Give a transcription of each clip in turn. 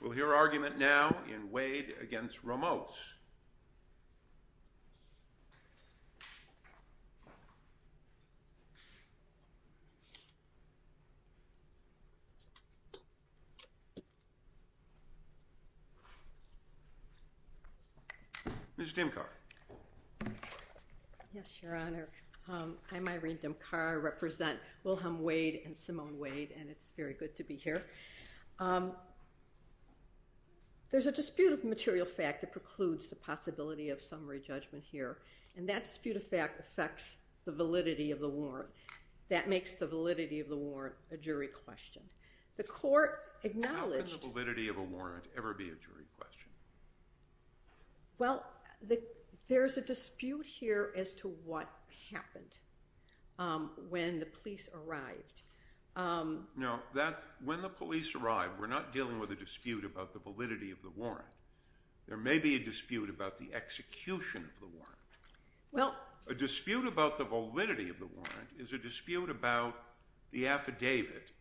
We'll hear argument now in Wade v. Ramos. Ms. Dimkar. Yes, Your Honor. I'm Irene Dimkar. I represent Wilhelm Wade and Simone Wade, and it's very good to be here. There's a dispute of material fact that precludes the possibility of summary judgment here, and that dispute of fact affects the validity of the warrant. That makes the validity of the warrant a jury question. The court acknowledged— How could the validity of a warrant ever be a jury question? Well, there's a dispute here as to what happened when the police arrived. No, when the police arrived, we're not dealing with a dispute about the validity of the warrant. There may be a dispute about the execution of the warrant. A dispute about the validity of the warrant is a dispute about the affidavit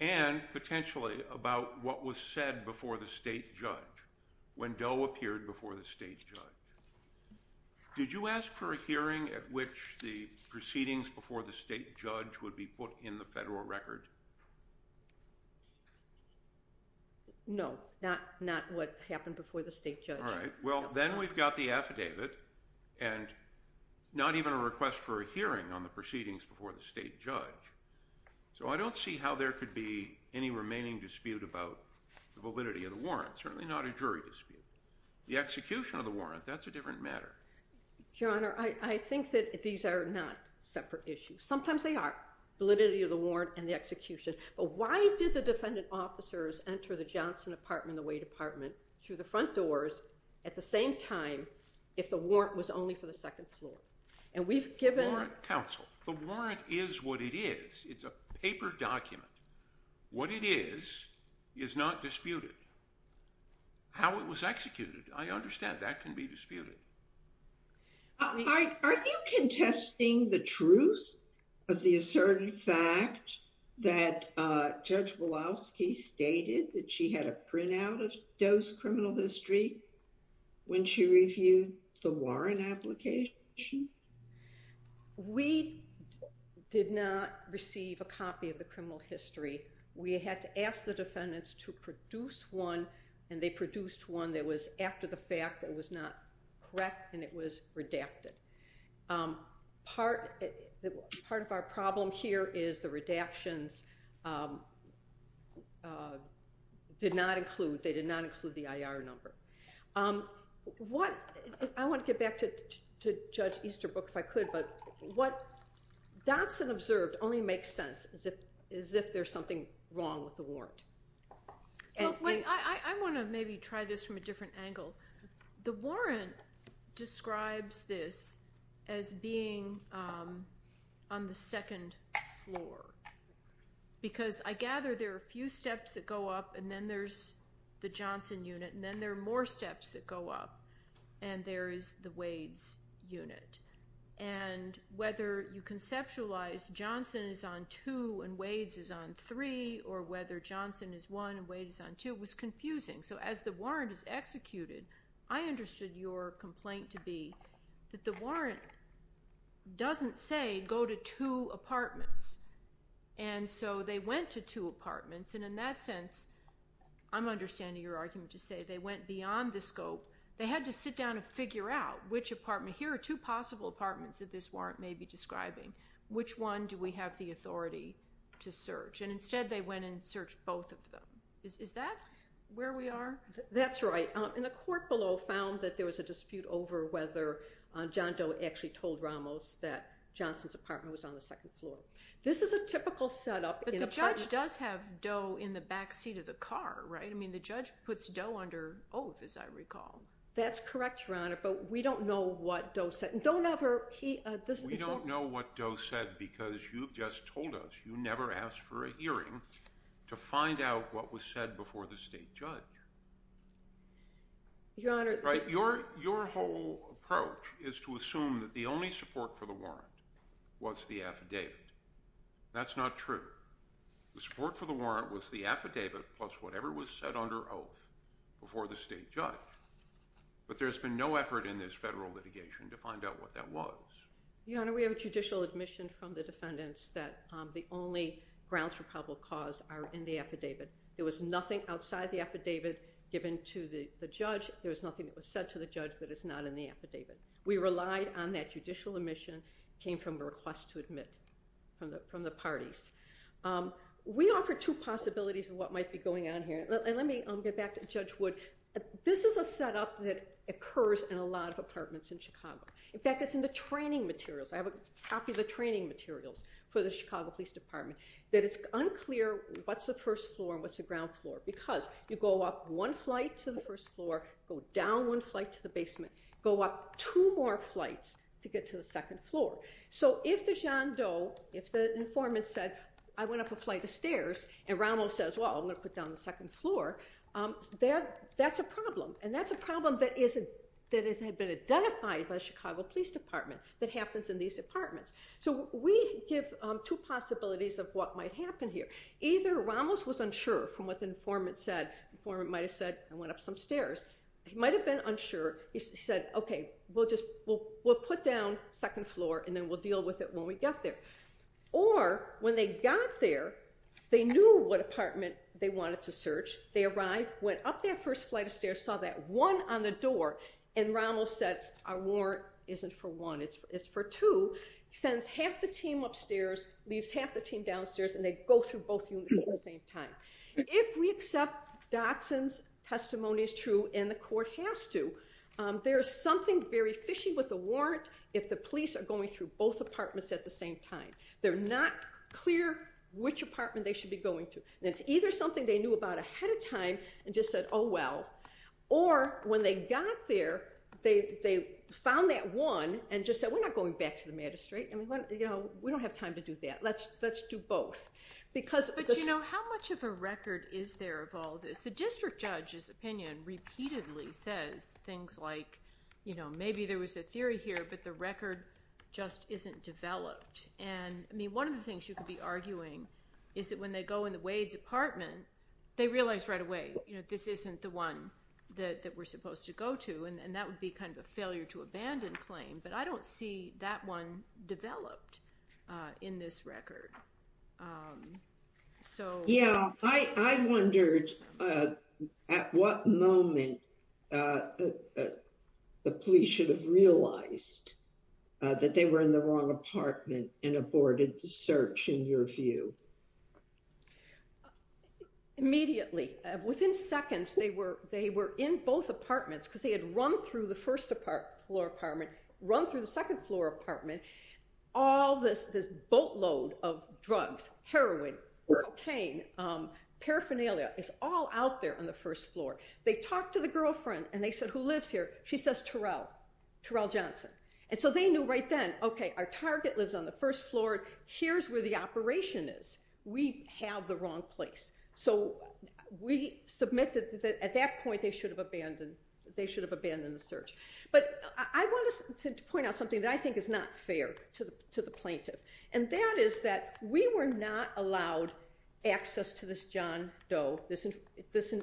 and potentially about what was said before the state judge when Doe appeared before the state judge. Did you ask for a hearing at which the proceedings before the state judge would be put in the federal record? No, not what happened before the state judge. All right. Well, then we've got the affidavit and not even a request for a hearing on the proceedings before the state judge. So I don't see how there could be any remaining dispute about the validity of the warrant, certainly not a jury dispute. The execution of the warrant, that's a different matter. Your Honor, I think that these are not separate issues. Sometimes they are, validity of the warrant and the execution. But why did the defendant officers enter the Johnson apartment, the White apartment, through the front doors at the same time if the warrant was only for the second floor? And we've given... Warrant counsel, the warrant is what it is. It's a paper document. What it is, is not disputed. How it was executed, I understand that can be disputed. Are you contesting the truth of the asserted fact that Judge Walowski stated that she had a printout of Doe's criminal history when she reviewed the warrant application? We did not receive a copy of the criminal history. We had to ask the defendants to produce one, and they produced one that was after the fact, that was not correct, and it was redacted. Part of our problem here is the redactions did not include, they did not include the IR number. I want to get back to Judge Easterbrook if I could, but what Johnson observed only makes sense as if there's something wrong with the warrant. I want to maybe try this from a different angle. The warrant describes this as being on the second floor, because I gather there are a few steps that go up, and then there's the Johnson unit, and then there are more steps that go up, and there is the Wade's unit. And whether you conceptualize Johnson is on two and Wade's is on three, or whether Johnson is one and Wade is on two, was confusing. So as the warrant is executed, I understood your complaint to be that the warrant doesn't say go to two apartments, and so they went to two apartments. And in that sense, I'm understanding your argument to say they went beyond the scope. They had to sit down and figure out which apartment. Here are two possible apartments that this warrant may be describing. Which one do we have the authority to search? And instead they went and searched both of them. Is that where we are? That's right. And the court below found that there was a dispute over whether John Doe actually told Ramos that Johnson's apartment was on the second floor. This is a typical setup. But the judge does have Doe in the back seat of the car, right? I mean, the judge puts Doe under oath, as I recall. That's correct, Your Honor, but we don't know what Doe said. We don't know what Doe said because you've just told us you never asked for a hearing to find out what was said before the state judge. Your Honor. Your whole approach is to assume that the only support for the warrant was the affidavit. That's not true. The support for the warrant was the affidavit plus whatever was said under oath before the state judge. But there's been no effort in this federal litigation to find out what that was. Your Honor, we have a judicial admission from the defendants that the only grounds for probable cause are in the affidavit. There was nothing outside the affidavit given to the judge. There was nothing that was said to the judge that is not in the affidavit. We relied on that judicial admission. It came from a request to admit from the parties. We offer two possibilities of what might be going on here. Let me get back to Judge Wood. This is a setup that occurs in a lot of apartments in Chicago. In fact, it's in the training materials. I have a copy of the training materials for the Chicago Police Department that it's unclear what's the first floor and what's the ground floor. Because you go up one flight to the first floor, go down one flight to the basement, go up two more flights to get to the second floor. So if the informant said, I went up a flight of stairs, and Ramos says, well, I'm going to put down the second floor, that's a problem. And that's a problem that has been identified by the Chicago Police Department that happens in these apartments. So we give two possibilities of what might happen here. Either Ramos was unsure from what the informant said. The informant might have said, I went up some stairs. He might have been unsure. He said, OK, we'll put down second floor, and then we'll deal with it when we get there. Or when they got there, they knew what apartment they wanted to search. They arrived, went up that first flight of stairs, saw that one on the door. And Ramos said, our warrant isn't for one. It's for two. Sends half the team upstairs, leaves half the team downstairs, and they go through both units at the same time. If we accept Dotson's testimony as true, and the court has to, there is something very fishy with the warrant if the police are going through both apartments at the same time. They're not clear which apartment they should be going to. And it's either something they knew about ahead of time and just said, oh, well. Or when they got there, they found that one and just said, we're not going back to the magistrate. We don't have time to do that. Let's do both. But, you know, how much of a record is there of all this? The district judge's opinion repeatedly says things like, you know, maybe there was a theory here, but the record just isn't developed. And, I mean, one of the things you could be arguing is that when they go in the Wade's apartment, they realize right away, you know, this isn't the one that we're supposed to go to, and that would be kind of a failure to abandon claim. But I don't see that one developed in this record. So, yeah, I wondered at what moment the police should have realized that they were in the wrong apartment and aborted the search, in your view. Immediately. Within seconds, they were in both apartments because they had run through the first-floor apartment, run through the second-floor apartment. All this boatload of drugs, heroin, cocaine, paraphernalia is all out there on the first floor. They talked to the girlfriend, and they said, who lives here? She says Terrell, Terrell Johnson. And so they knew right then, okay, our target lives on the first floor. Here's where the operation is. We have the wrong place. So we submitted that at that point they should have abandoned the search. But I wanted to point out something that I think is not fair to the plaintiff, and that is that we were not allowed access to this John Doe, this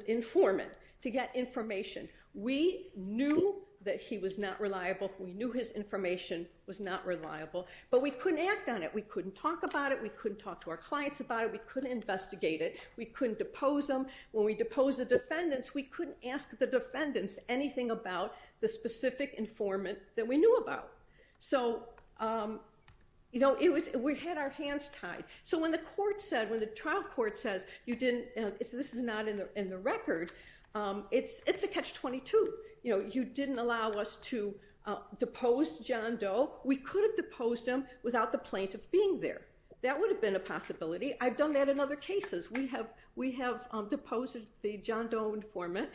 informant, to get information. We knew that he was not reliable. We knew his information was not reliable. But we couldn't act on it. We couldn't talk about it. We couldn't talk to our clients about it. We couldn't investigate it. We couldn't depose him. When we deposed the defendants, we couldn't ask the defendants anything about the specific informant that we knew about. So we had our hands tied. So when the trial court says, this is not in the record, it's a catch-22. You didn't allow us to depose John Doe. We could have deposed him without the plaintiff being there. That would have been a possibility. I've done that in other cases. We have deposed the John Doe informant.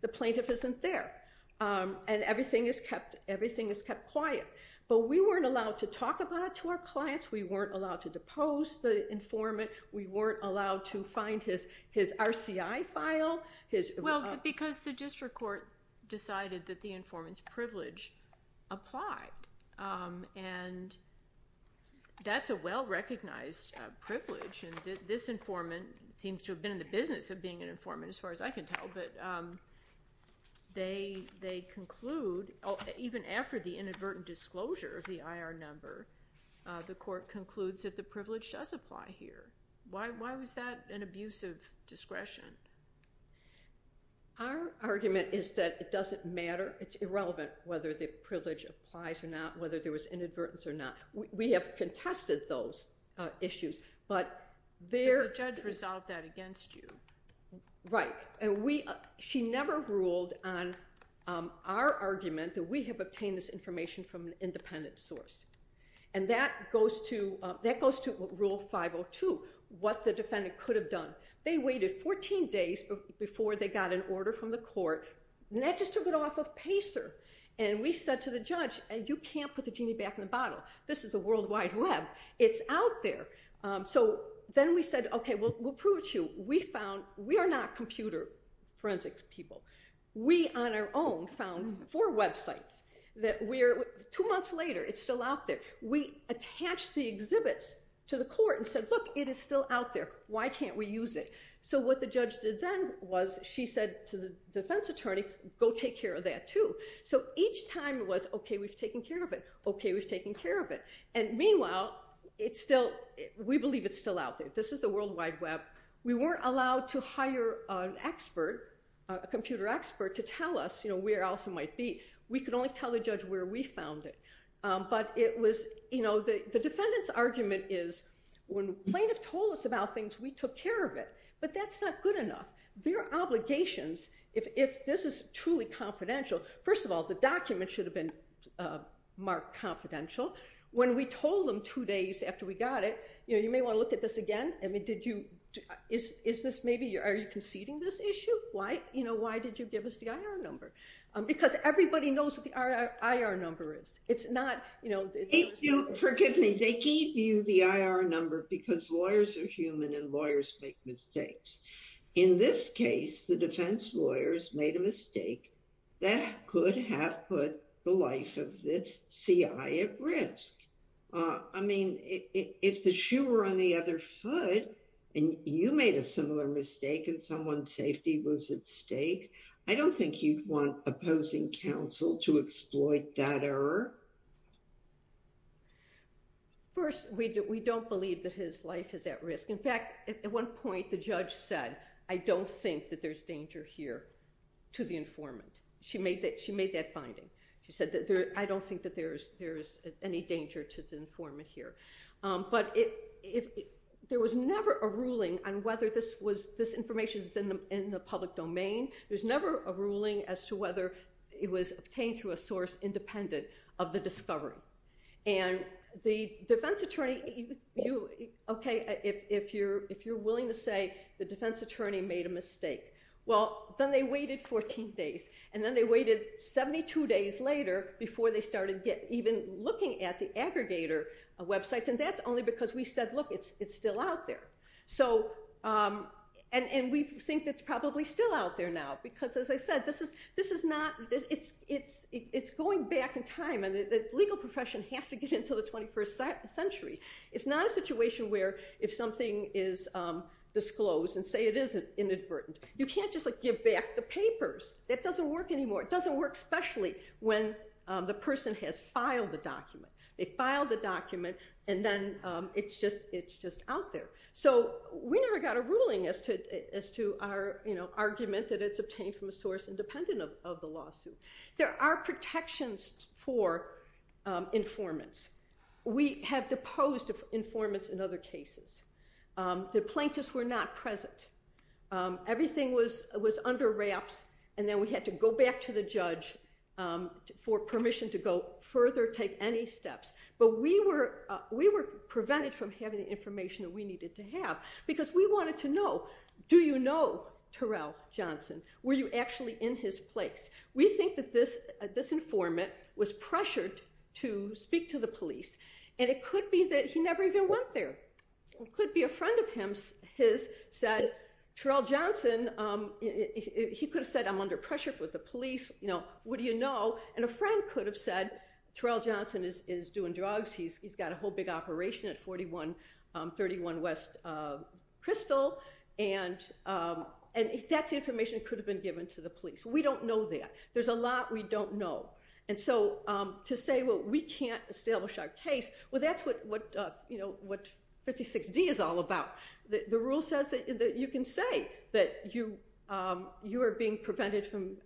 The plaintiff isn't there. And everything is kept quiet. But we weren't allowed to talk about it to our clients. We weren't allowed to depose the informant. We weren't allowed to find his RCI file. Well, because the district court decided that the informant's privilege applied. And that's a well-recognized privilege. And this informant seems to have been in the business of being an informant, as far as I can tell. But they conclude, even after the inadvertent disclosure of the IR number, the court concludes that the privilege does apply here. Why was that an abuse of discretion? Our argument is that it doesn't matter. It's irrelevant whether the privilege applies or not, whether there was inadvertence or not. We have contested those issues. But the judge resolved that against you. Right. And she never ruled on our argument that we have obtained this information from an independent source. And that goes to Rule 502, what the defendant could have done. They waited 14 days before they got an order from the court. And that just took it off of PACER. And we said to the judge, you can't put the genie back in the bottle. This is a World Wide Web. It's out there. So then we said, okay, we'll prove it to you. We found, we are not computer forensics people. We, on our own, found four websites. Two months later, it's still out there. We attached the exhibits to the court and said, look, it is still out there. Why can't we use it? So what the judge did then was she said to the defense attorney, go take care of that too. So each time it was, okay, we've taken care of it. Okay, we've taken care of it. And meanwhile, we believe it's still out there. This is the World Wide Web. We weren't allowed to hire an expert, a computer expert, to tell us, you know, where else it might be. We could only tell the judge where we found it. But it was, you know, the defendant's argument is when plaintiff told us about things, we took care of it. But that's not good enough. Their obligations, if this is truly confidential, first of all, the document should have been marked confidential. When we told them two days after we got it, you know, you may want to look at this again. I mean, did you, is this maybe, are you conceding this issue? Why, you know, why did you give us the IR number? Because everybody knows what the IR number is. It's not, you know. Forgive me. They gave you the IR number because lawyers are human and lawyers make mistakes. In this case, the defense lawyers made a mistake that could have put the life of the CI at risk. I mean, if the shoe were on the other foot and you made a similar mistake and someone's safety was at stake, I don't think you'd want opposing counsel to exploit that error. First, we don't believe that his life is at risk. In fact, at one point the judge said, I don't think that there's danger here to the informant. She made that finding. She said, I don't think that there's any danger to the informant here. But there was never a ruling on whether this information is in the public domain. There's never a ruling as to whether it was obtained through a source independent of the discovery. And the defense attorney, okay, if you're willing to say the defense attorney made a mistake, well, then they waited 14 days. And then they waited 72 days later before they started even looking at the aggregator websites. And that's only because we said, look, it's still out there. And we think it's probably still out there now because, as I said, this is not – it's going back in time and the legal profession has to get into the 21st century. It's not a situation where if something is disclosed and say it is inadvertent, you can't just give back the papers. That doesn't work anymore. It doesn't work especially when the person has filed the document. They filed the document and then it's just out there. So we never got a ruling as to our argument that it's obtained from a source independent of the lawsuit. There are protections for informants. We have deposed informants in other cases. The plaintiffs were not present. Everything was under wraps. And then we had to go back to the judge for permission to go further, take any steps. But we were prevented from having the information that we needed to have because we wanted to know, do you know Terrell Johnson? Were you actually in his place? We think that this informant was pressured to speak to the police. And it could be that he never even went there. It could be a friend of his said Terrell Johnson, he could have said I'm under pressure with the police. What do you know? And a friend could have said Terrell Johnson is doing drugs. He's got a whole big operation at 4131 West Crystal. And that's information that could have been given to the police. We don't know that. There's a lot we don't know. And so to say, well, we can't establish our case, well, that's what 56D is all about. The rule says that you can say that you are being prevented from,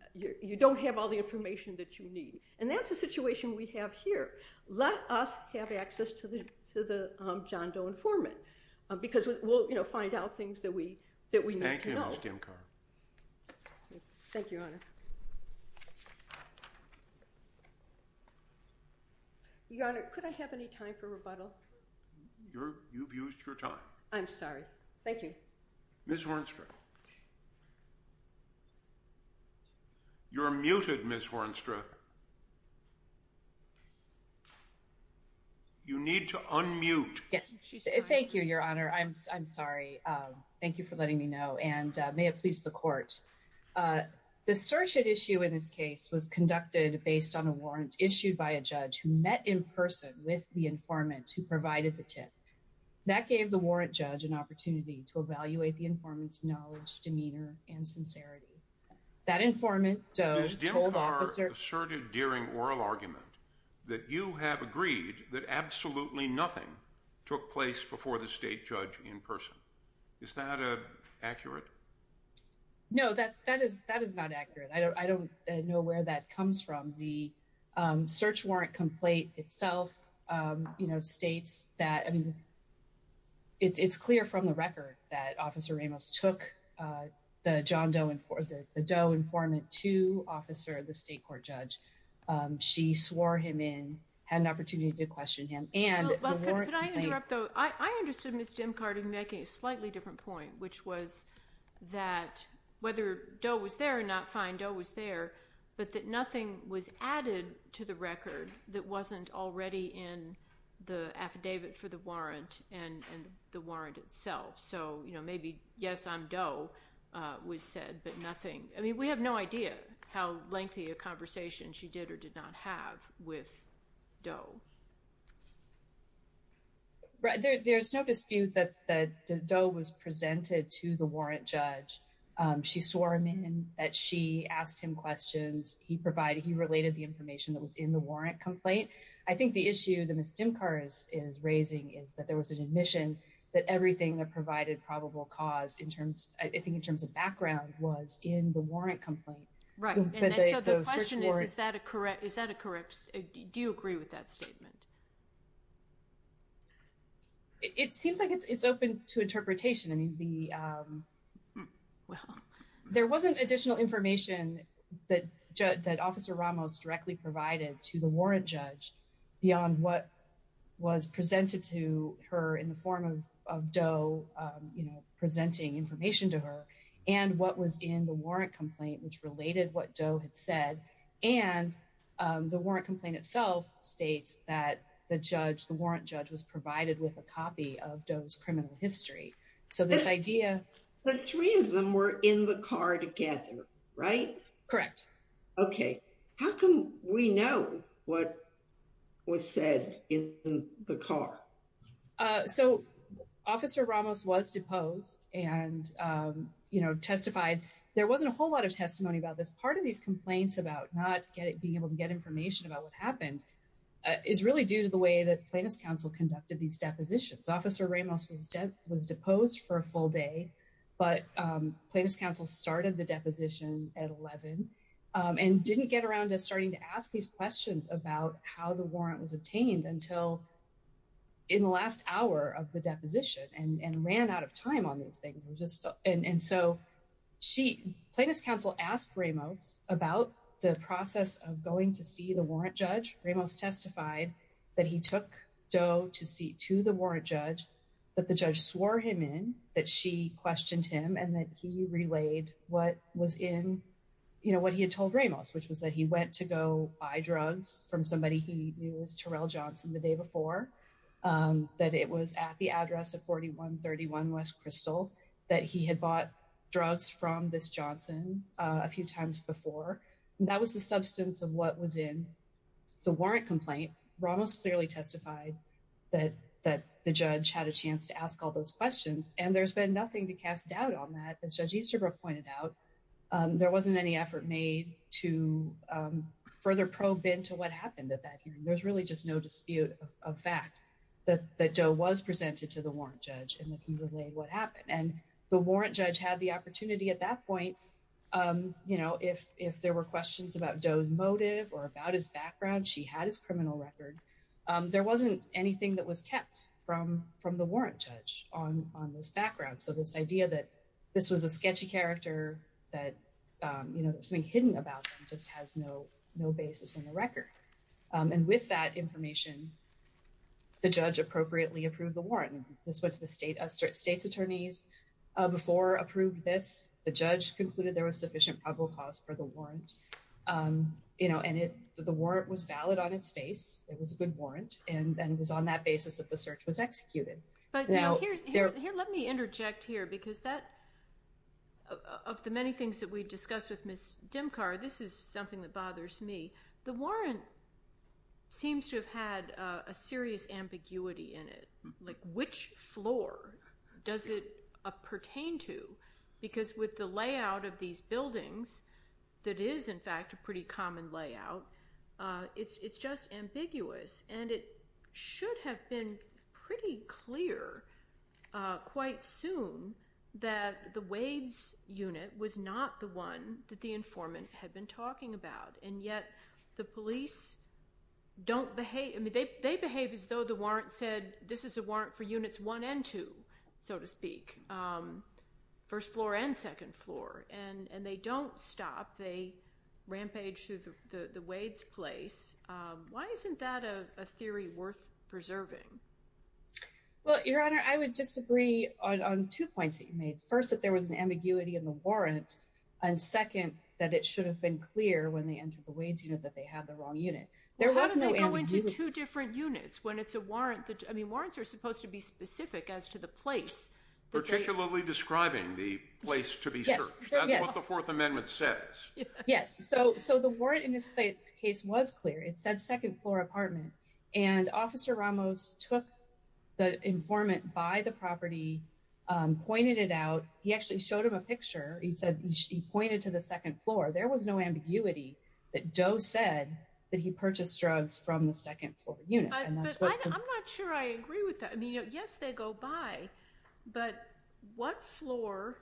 you don't have all the information that you need. And that's the situation we have here. Let us have access to the John Doe informant because we'll find out things that we need to know. Thank you, Your Honor. Your Honor, could I have any time for rebuttal? You've used your time. I'm sorry. Thank you. Ms. Hornstra. You're muted, Ms. Hornstra. You need to unmute. Thank you, Your Honor. I'm sorry. Thank you for letting me know. And may it please the court. The search at issue in this case was conducted based on a warrant issued by a judge who met in person with the informant who provided the tip. That gave the warrant judge an opportunity to evaluate the informant's knowledge, demeanor, and sincerity. That informant, Doe, told officer... Ms. Dimkar asserted during oral argument that you have agreed that absolutely nothing took place before the state judge in person. Is that accurate? No, that is not accurate. I don't know where that comes from. The search warrant complaint itself states that it's clear from the record that officer Ramos took the Doe informant to officer, the state court judge. She swore him in, had an opportunity to question him, and the warrant complaint... Could I interrupt, though? I understood Ms. Dimkar making a slightly different point, which was that whether Doe was there or not, fine, Doe was there, but that nothing was added to the record that wasn't already in the affidavit for the warrant and the warrant itself. So maybe, yes, I'm Doe was said, but nothing... I mean, we have no idea how lengthy a conversation she did or did not have with Doe. There's no dispute that Doe was presented to the warrant judge. She swore him in, that she asked him questions, he provided, he related the information that was in the warrant complaint. I think the issue that Ms. Dimkar is raising is that there was an admission that everything that provided probable cause, I think in terms of background, was in the warrant complaint. Right. So the question is, is that a, do you agree with that statement? It seems like it's open to interpretation. I mean, there wasn't additional information that Officer Ramos directly provided to the warrant judge beyond what was presented to her in the form of Doe presenting information to her and what was in the warrant complaint, which related what Doe had said. And the warrant complaint itself states that the judge, the warrant judge was provided with a copy of Doe's criminal history. So this idea... The three of them were in the car together, right? Correct. Okay. How come we know what was said in the car? So Officer Ramos was deposed and testified. There wasn't a whole lot of testimony about this. Part of these complaints about not being able to get information about what happened is really due to the way that Plaintiff's Counsel conducted these depositions. Officer Ramos was deposed for a full day, but Plaintiff's Counsel started the deposition at 11 and didn't get around to starting to ask these questions about how the warrant was obtained until in the last hour of the deposition and ran out of time on these things. And so Plaintiff's Counsel asked Ramos about the process of going to see the warrant judge. Ramos testified that he took Doe to see to the warrant judge, that the judge swore him in, that she questioned him, and that he relayed what he had told Ramos, which was that he went to go buy drugs from somebody he knew as Terrell Johnson the day before, that it was at the address of 4131 West Crystal that he had bought drugs from this Johnson a few times before. That was the substance of what was in the warrant complaint. Ramos clearly testified that the judge had a chance to ask all those questions, and there's been nothing to cast doubt on that. As Judge Easterbrook pointed out, there wasn't any effort made to further probe into what happened at that hearing. There's really just no dispute of fact that Doe was presented to the warrant judge and that he relayed what happened. And the warrant judge had the opportunity at that point, you know, if there were questions about Doe's motive or about his background, she had his criminal record. There wasn't anything that was kept from the warrant judge on this background. So this idea that this was a sketchy character, that, you know, there's something hidden about him just has no basis in the record. And with that information, the judge appropriately approved the warrant. This went to the state's attorneys before approved this. The judge concluded there was sufficient probable cause for the warrant. You know, and the warrant was valid on its face. It was a good warrant, and it was on that basis that the search was executed. But, you know, here let me interject here because that, of the many things that we discussed with Ms. Dimkar, this is something that bothers me. The warrant seems to have had a serious ambiguity in it. Like which floor does it pertain to? Because with the layout of these buildings that is, in fact, a pretty common layout, it's just ambiguous. And it should have been pretty clear quite soon that the Wades unit was not the one that the informant had been talking about. And yet the police don't behave. I mean, they behave as though the warrant said this is a warrant for units one and two, so to speak, first floor and second floor. And they don't stop. They rampage through the Wades place. Why isn't that a theory worth preserving? Well, Your Honor, I would disagree on two points that you made. First, that there was an ambiguity in the warrant. And second, that it should have been clear when they entered the Wades unit that they had the wrong unit. How do they go into two different units when it's a warrant? I mean, warrants are supposed to be specific as to the place. Particularly describing the place to be searched. That's what the Fourth Amendment says. Yes. So the warrant in this case was clear. It said second floor apartment. And Officer Ramos took the informant by the property, pointed it out. He actually showed him a picture. He pointed to the second floor. There was no ambiguity that Doe said that he purchased drugs from the second floor unit. But I'm not sure I agree with that. I mean, yes, they go by. But what floor?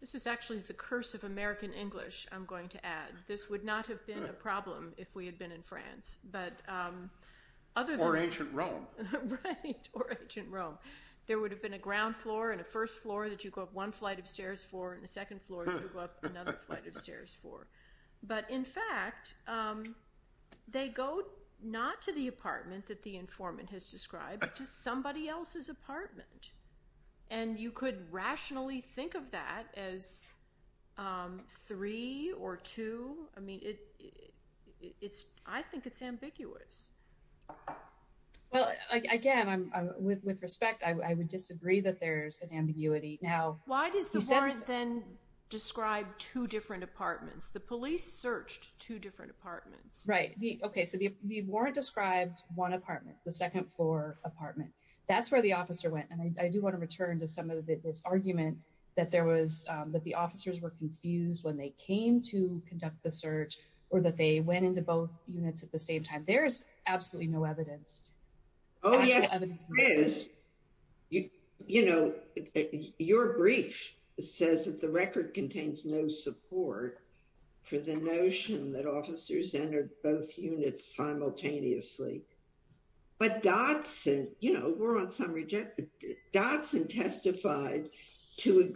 This is actually the curse of American English, I'm going to add. This would not have been a problem if we had been in France. Or ancient Rome. Right. Or ancient Rome. There would have been a ground floor and a first floor that you go up one flight of stairs for, and the second floor you go up another flight of stairs for. But, in fact, they go not to the apartment that the informant has described, but to somebody else's apartment. And you could rationally think of that as three or two. I mean, I think it's ambiguous. Well, again, with respect, I would disagree that there's an ambiguity. Why does the warrant then describe two different apartments? The police searched two different apartments. Right. Okay, so the warrant described one apartment, the second floor apartment. That's where the officer went. And I do want to return to some of this argument that the officers were confused when they came to conduct the search or that they went into both units at the same time. There's absolutely no evidence. Oh, yes, there is. You know, your brief says that the record contains no support for the notion that officers entered both units simultaneously. But Dodson, you know, Dodson testified to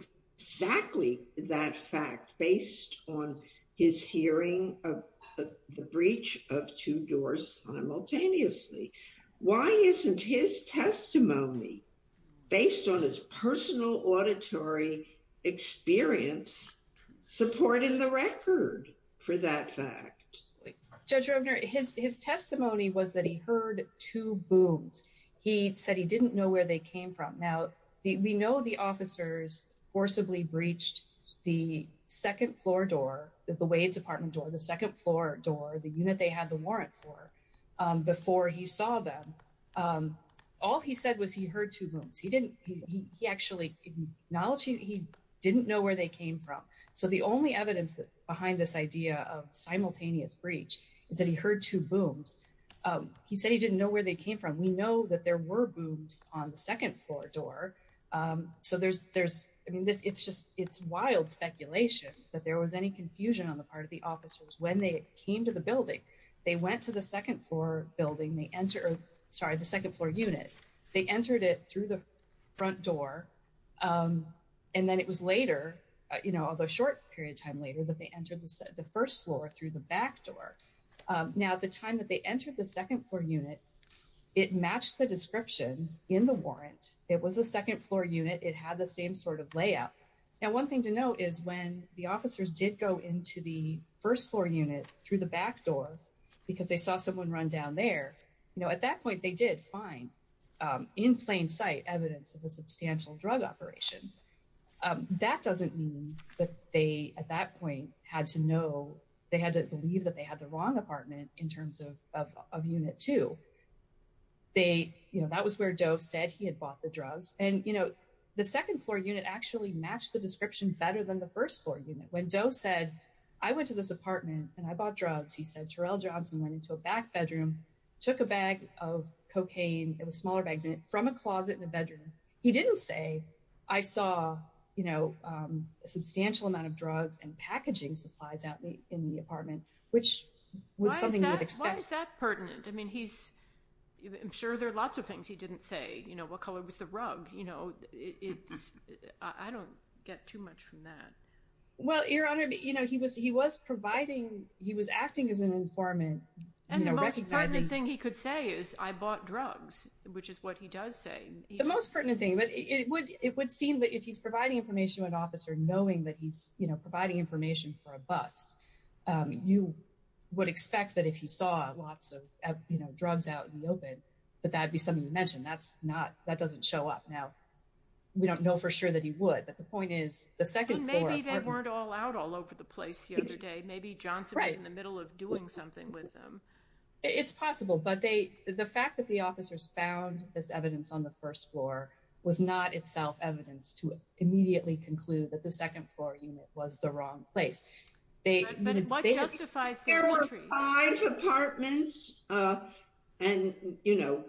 exactly that fact based on his hearing of the breach of two doors simultaneously. Why isn't his testimony based on his personal auditory experience supporting the record for that fact? Judge Roebner, his testimony was that he heard two booms. He said he didn't know where they came from. Now, we know the officers forcibly breached the second floor door, the Wade's apartment door, the second floor door, the unit they had the warrant for before he saw them. All he said was he heard two booms. He didn't. He actually acknowledged he didn't know where they came from. So the only evidence behind this idea of simultaneous breach is that he heard two booms. He said he didn't know where they came from. We know that there were booms on the second floor door. So there's there's I mean, it's just it's wild speculation that there was any confusion on the part of the officers when they came to the building. They went to the second floor building. Sorry, the second floor unit. They entered it through the front door. And then it was later, you know, the short period of time later that they entered the first floor through the back door. Now, at the time that they entered the second floor unit, it matched the description in the warrant. It was a second floor unit. It had the same sort of layout. Now, one thing to note is when the officers did go into the first floor unit through the back door because they saw someone run down there. You know, at that point, they did find in plain sight evidence of a substantial drug operation. That doesn't mean that they at that point had to know they had to believe that they had the wrong apartment in terms of a unit to. They you know, that was where Joe said he had bought the drugs. And, you know, the second floor unit actually matched the description better than the first floor unit. When Joe said, I went to this apartment and I bought drugs, he said Terrell Johnson went into a back bedroom, took a bag of cocaine, it was smaller bags in it, from a closet in the bedroom. He didn't say, I saw, you know, a substantial amount of drugs and packaging supplies out in the apartment, which was something you would expect. Why is that pertinent? I mean, he's I'm sure there are lots of things he didn't say. You know, what color was the rug? You know, it's I don't get too much from that. Well, Your Honor, you know, he was he was providing he was acting as an informant. And the most important thing he could say is I bought drugs, which is what he does say. The most pertinent thing. But it would it would seem that if he's providing information to an officer, knowing that he's providing information for a bust, you would expect that if he saw lots of drugs out in the open, but that'd be something you mentioned. That's not that doesn't show up. Now, we don't know for sure that he would. But the point is, the second floor weren't all out all over the place the other day. Maybe Johnson was in the middle of doing something with them. It's possible. But they the fact that the officers found this evidence on the first floor was not itself evidence to immediately conclude that the second floor unit was the wrong place. But it justifies there were five apartments and, you know,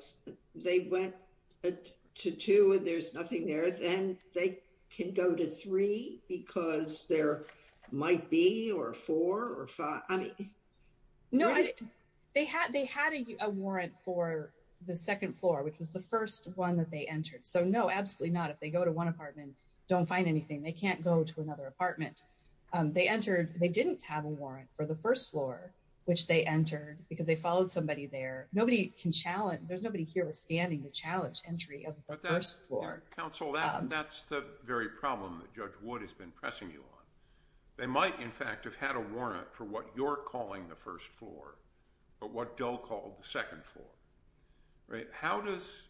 they went to two and there's nothing there. And they can go to three because there might be or four or five. I mean, no, they had they had a warrant for the second floor, which was the first one that they entered. So, no, absolutely not. If they go to one apartment, don't find anything. They can't go to another apartment. They entered. They didn't have a warrant for the first floor, which they entered because they followed somebody there. Nobody can challenge. There's nobody here standing to challenge entry of the first floor council. And that's the very problem that Judge Wood has been pressing you on. They might, in fact, have had a warrant for what you're calling the first floor. But what Dell called the second floor. Right. How does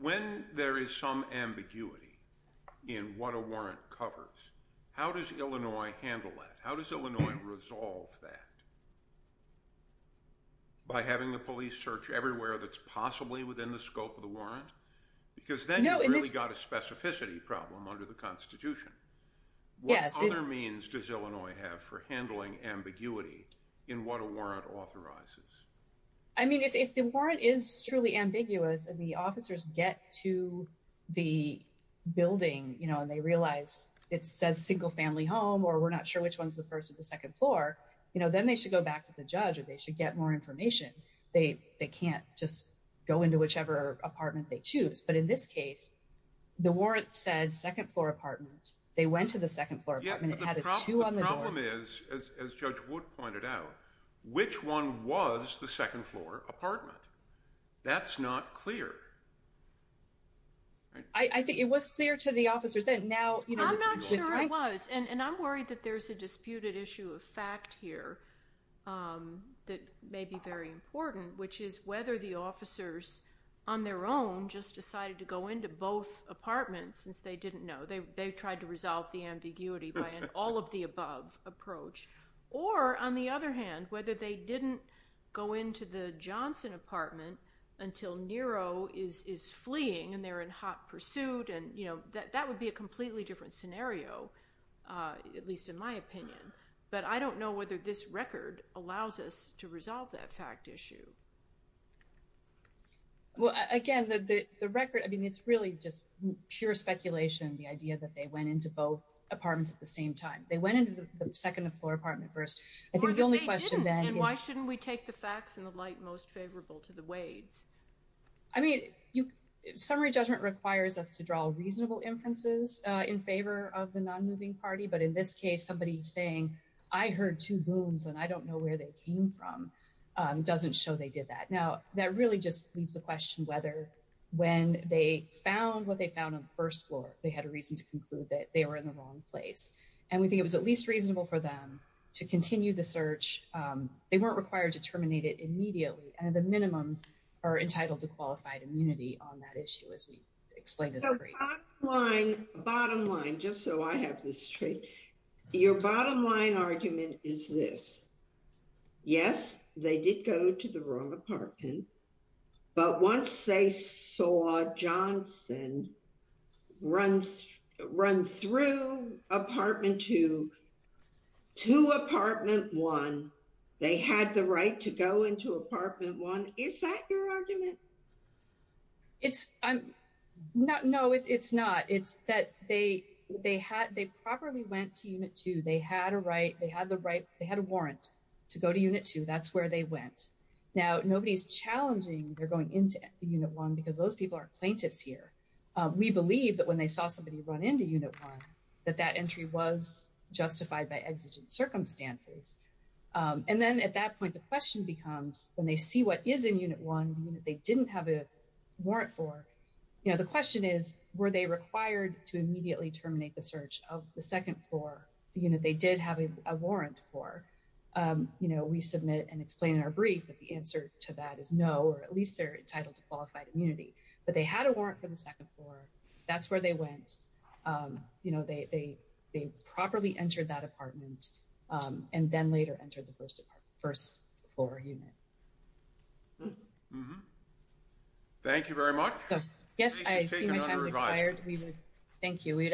when there is some ambiguity in what a warrant covers, how does Illinois handle that? How does Illinois resolve that? By having the police search everywhere that's possibly within the scope of the warrant? Because then you really got a specificity problem under the Constitution. What other means does Illinois have for handling ambiguity in what a warrant authorizes? I mean, if the warrant is truly ambiguous and the officers get to the building and they realize it says single family home or we're not sure which one's the first or the second floor, then they should go back to the judge and they should get more information. They can't just go into whichever apartment they choose. But in this case, the warrant said second floor apartment. They went to the second floor apartment. It had a two on the door. The problem is, as Judge Wood pointed out, which one was the second floor apartment? That's not clear. I think it was clear to the officers. I'm not sure it was. And I'm worried that there's a disputed issue of fact here that may be very important, which is whether the officers on their own just decided to go into both apartments since they didn't know. They tried to resolve the ambiguity by an all of the above approach. Or, on the other hand, whether they didn't go into the Johnson apartment until Nero is fleeing and they're in hot pursuit. And, you know, that would be a completely different scenario, at least in my opinion. But I don't know whether this record allows us to resolve that fact issue. Well, again, the record, I mean, it's really just pure speculation. The idea that they went into both apartments at the same time, they went into the second floor apartment first. I think the only question then, why shouldn't we take the facts in the light most favorable to the Wades? I mean, summary judgment requires us to draw reasonable inferences in favor of the non-moving party. But in this case, somebody saying, I heard two booms and I don't know where they came from, doesn't show they did that. Now, that really just leaves the question whether when they found what they found on the first floor, they had a reason to conclude that they were in the wrong place. And we think it was at least reasonable for them to continue the search. They weren't required to terminate it immediately. And the minimum are entitled to qualified immunity on that issue, as we explained. Bottom line, just so I have this straight, your bottom line argument is this. Yes, they did go to the wrong apartment. But once they saw Johnson run through apartment two to apartment one, they had the right to go into apartment one. Is that your argument? No, it's not. It's that they properly went to unit two. They had a right. They had the right. They had a warrant to go to unit two. That's where they went. Now, nobody's challenging they're going into unit one because those people are plaintiffs here. We believe that when they saw somebody run into unit one, that that entry was justified by exigent circumstances. And then at that point, the question becomes when they see what is in unit one, they didn't have a warrant for. The question is, were they required to immediately terminate the search of the second floor? They did have a warrant for. We submit and explain in our brief that the answer to that is no, or at least they're entitled to qualified immunity. But they had a warrant for the second floor. That's where they went. They properly entered that apartment and then later entered the first floor unit. Thank you very much. Yes, I see my time has expired. Thank you.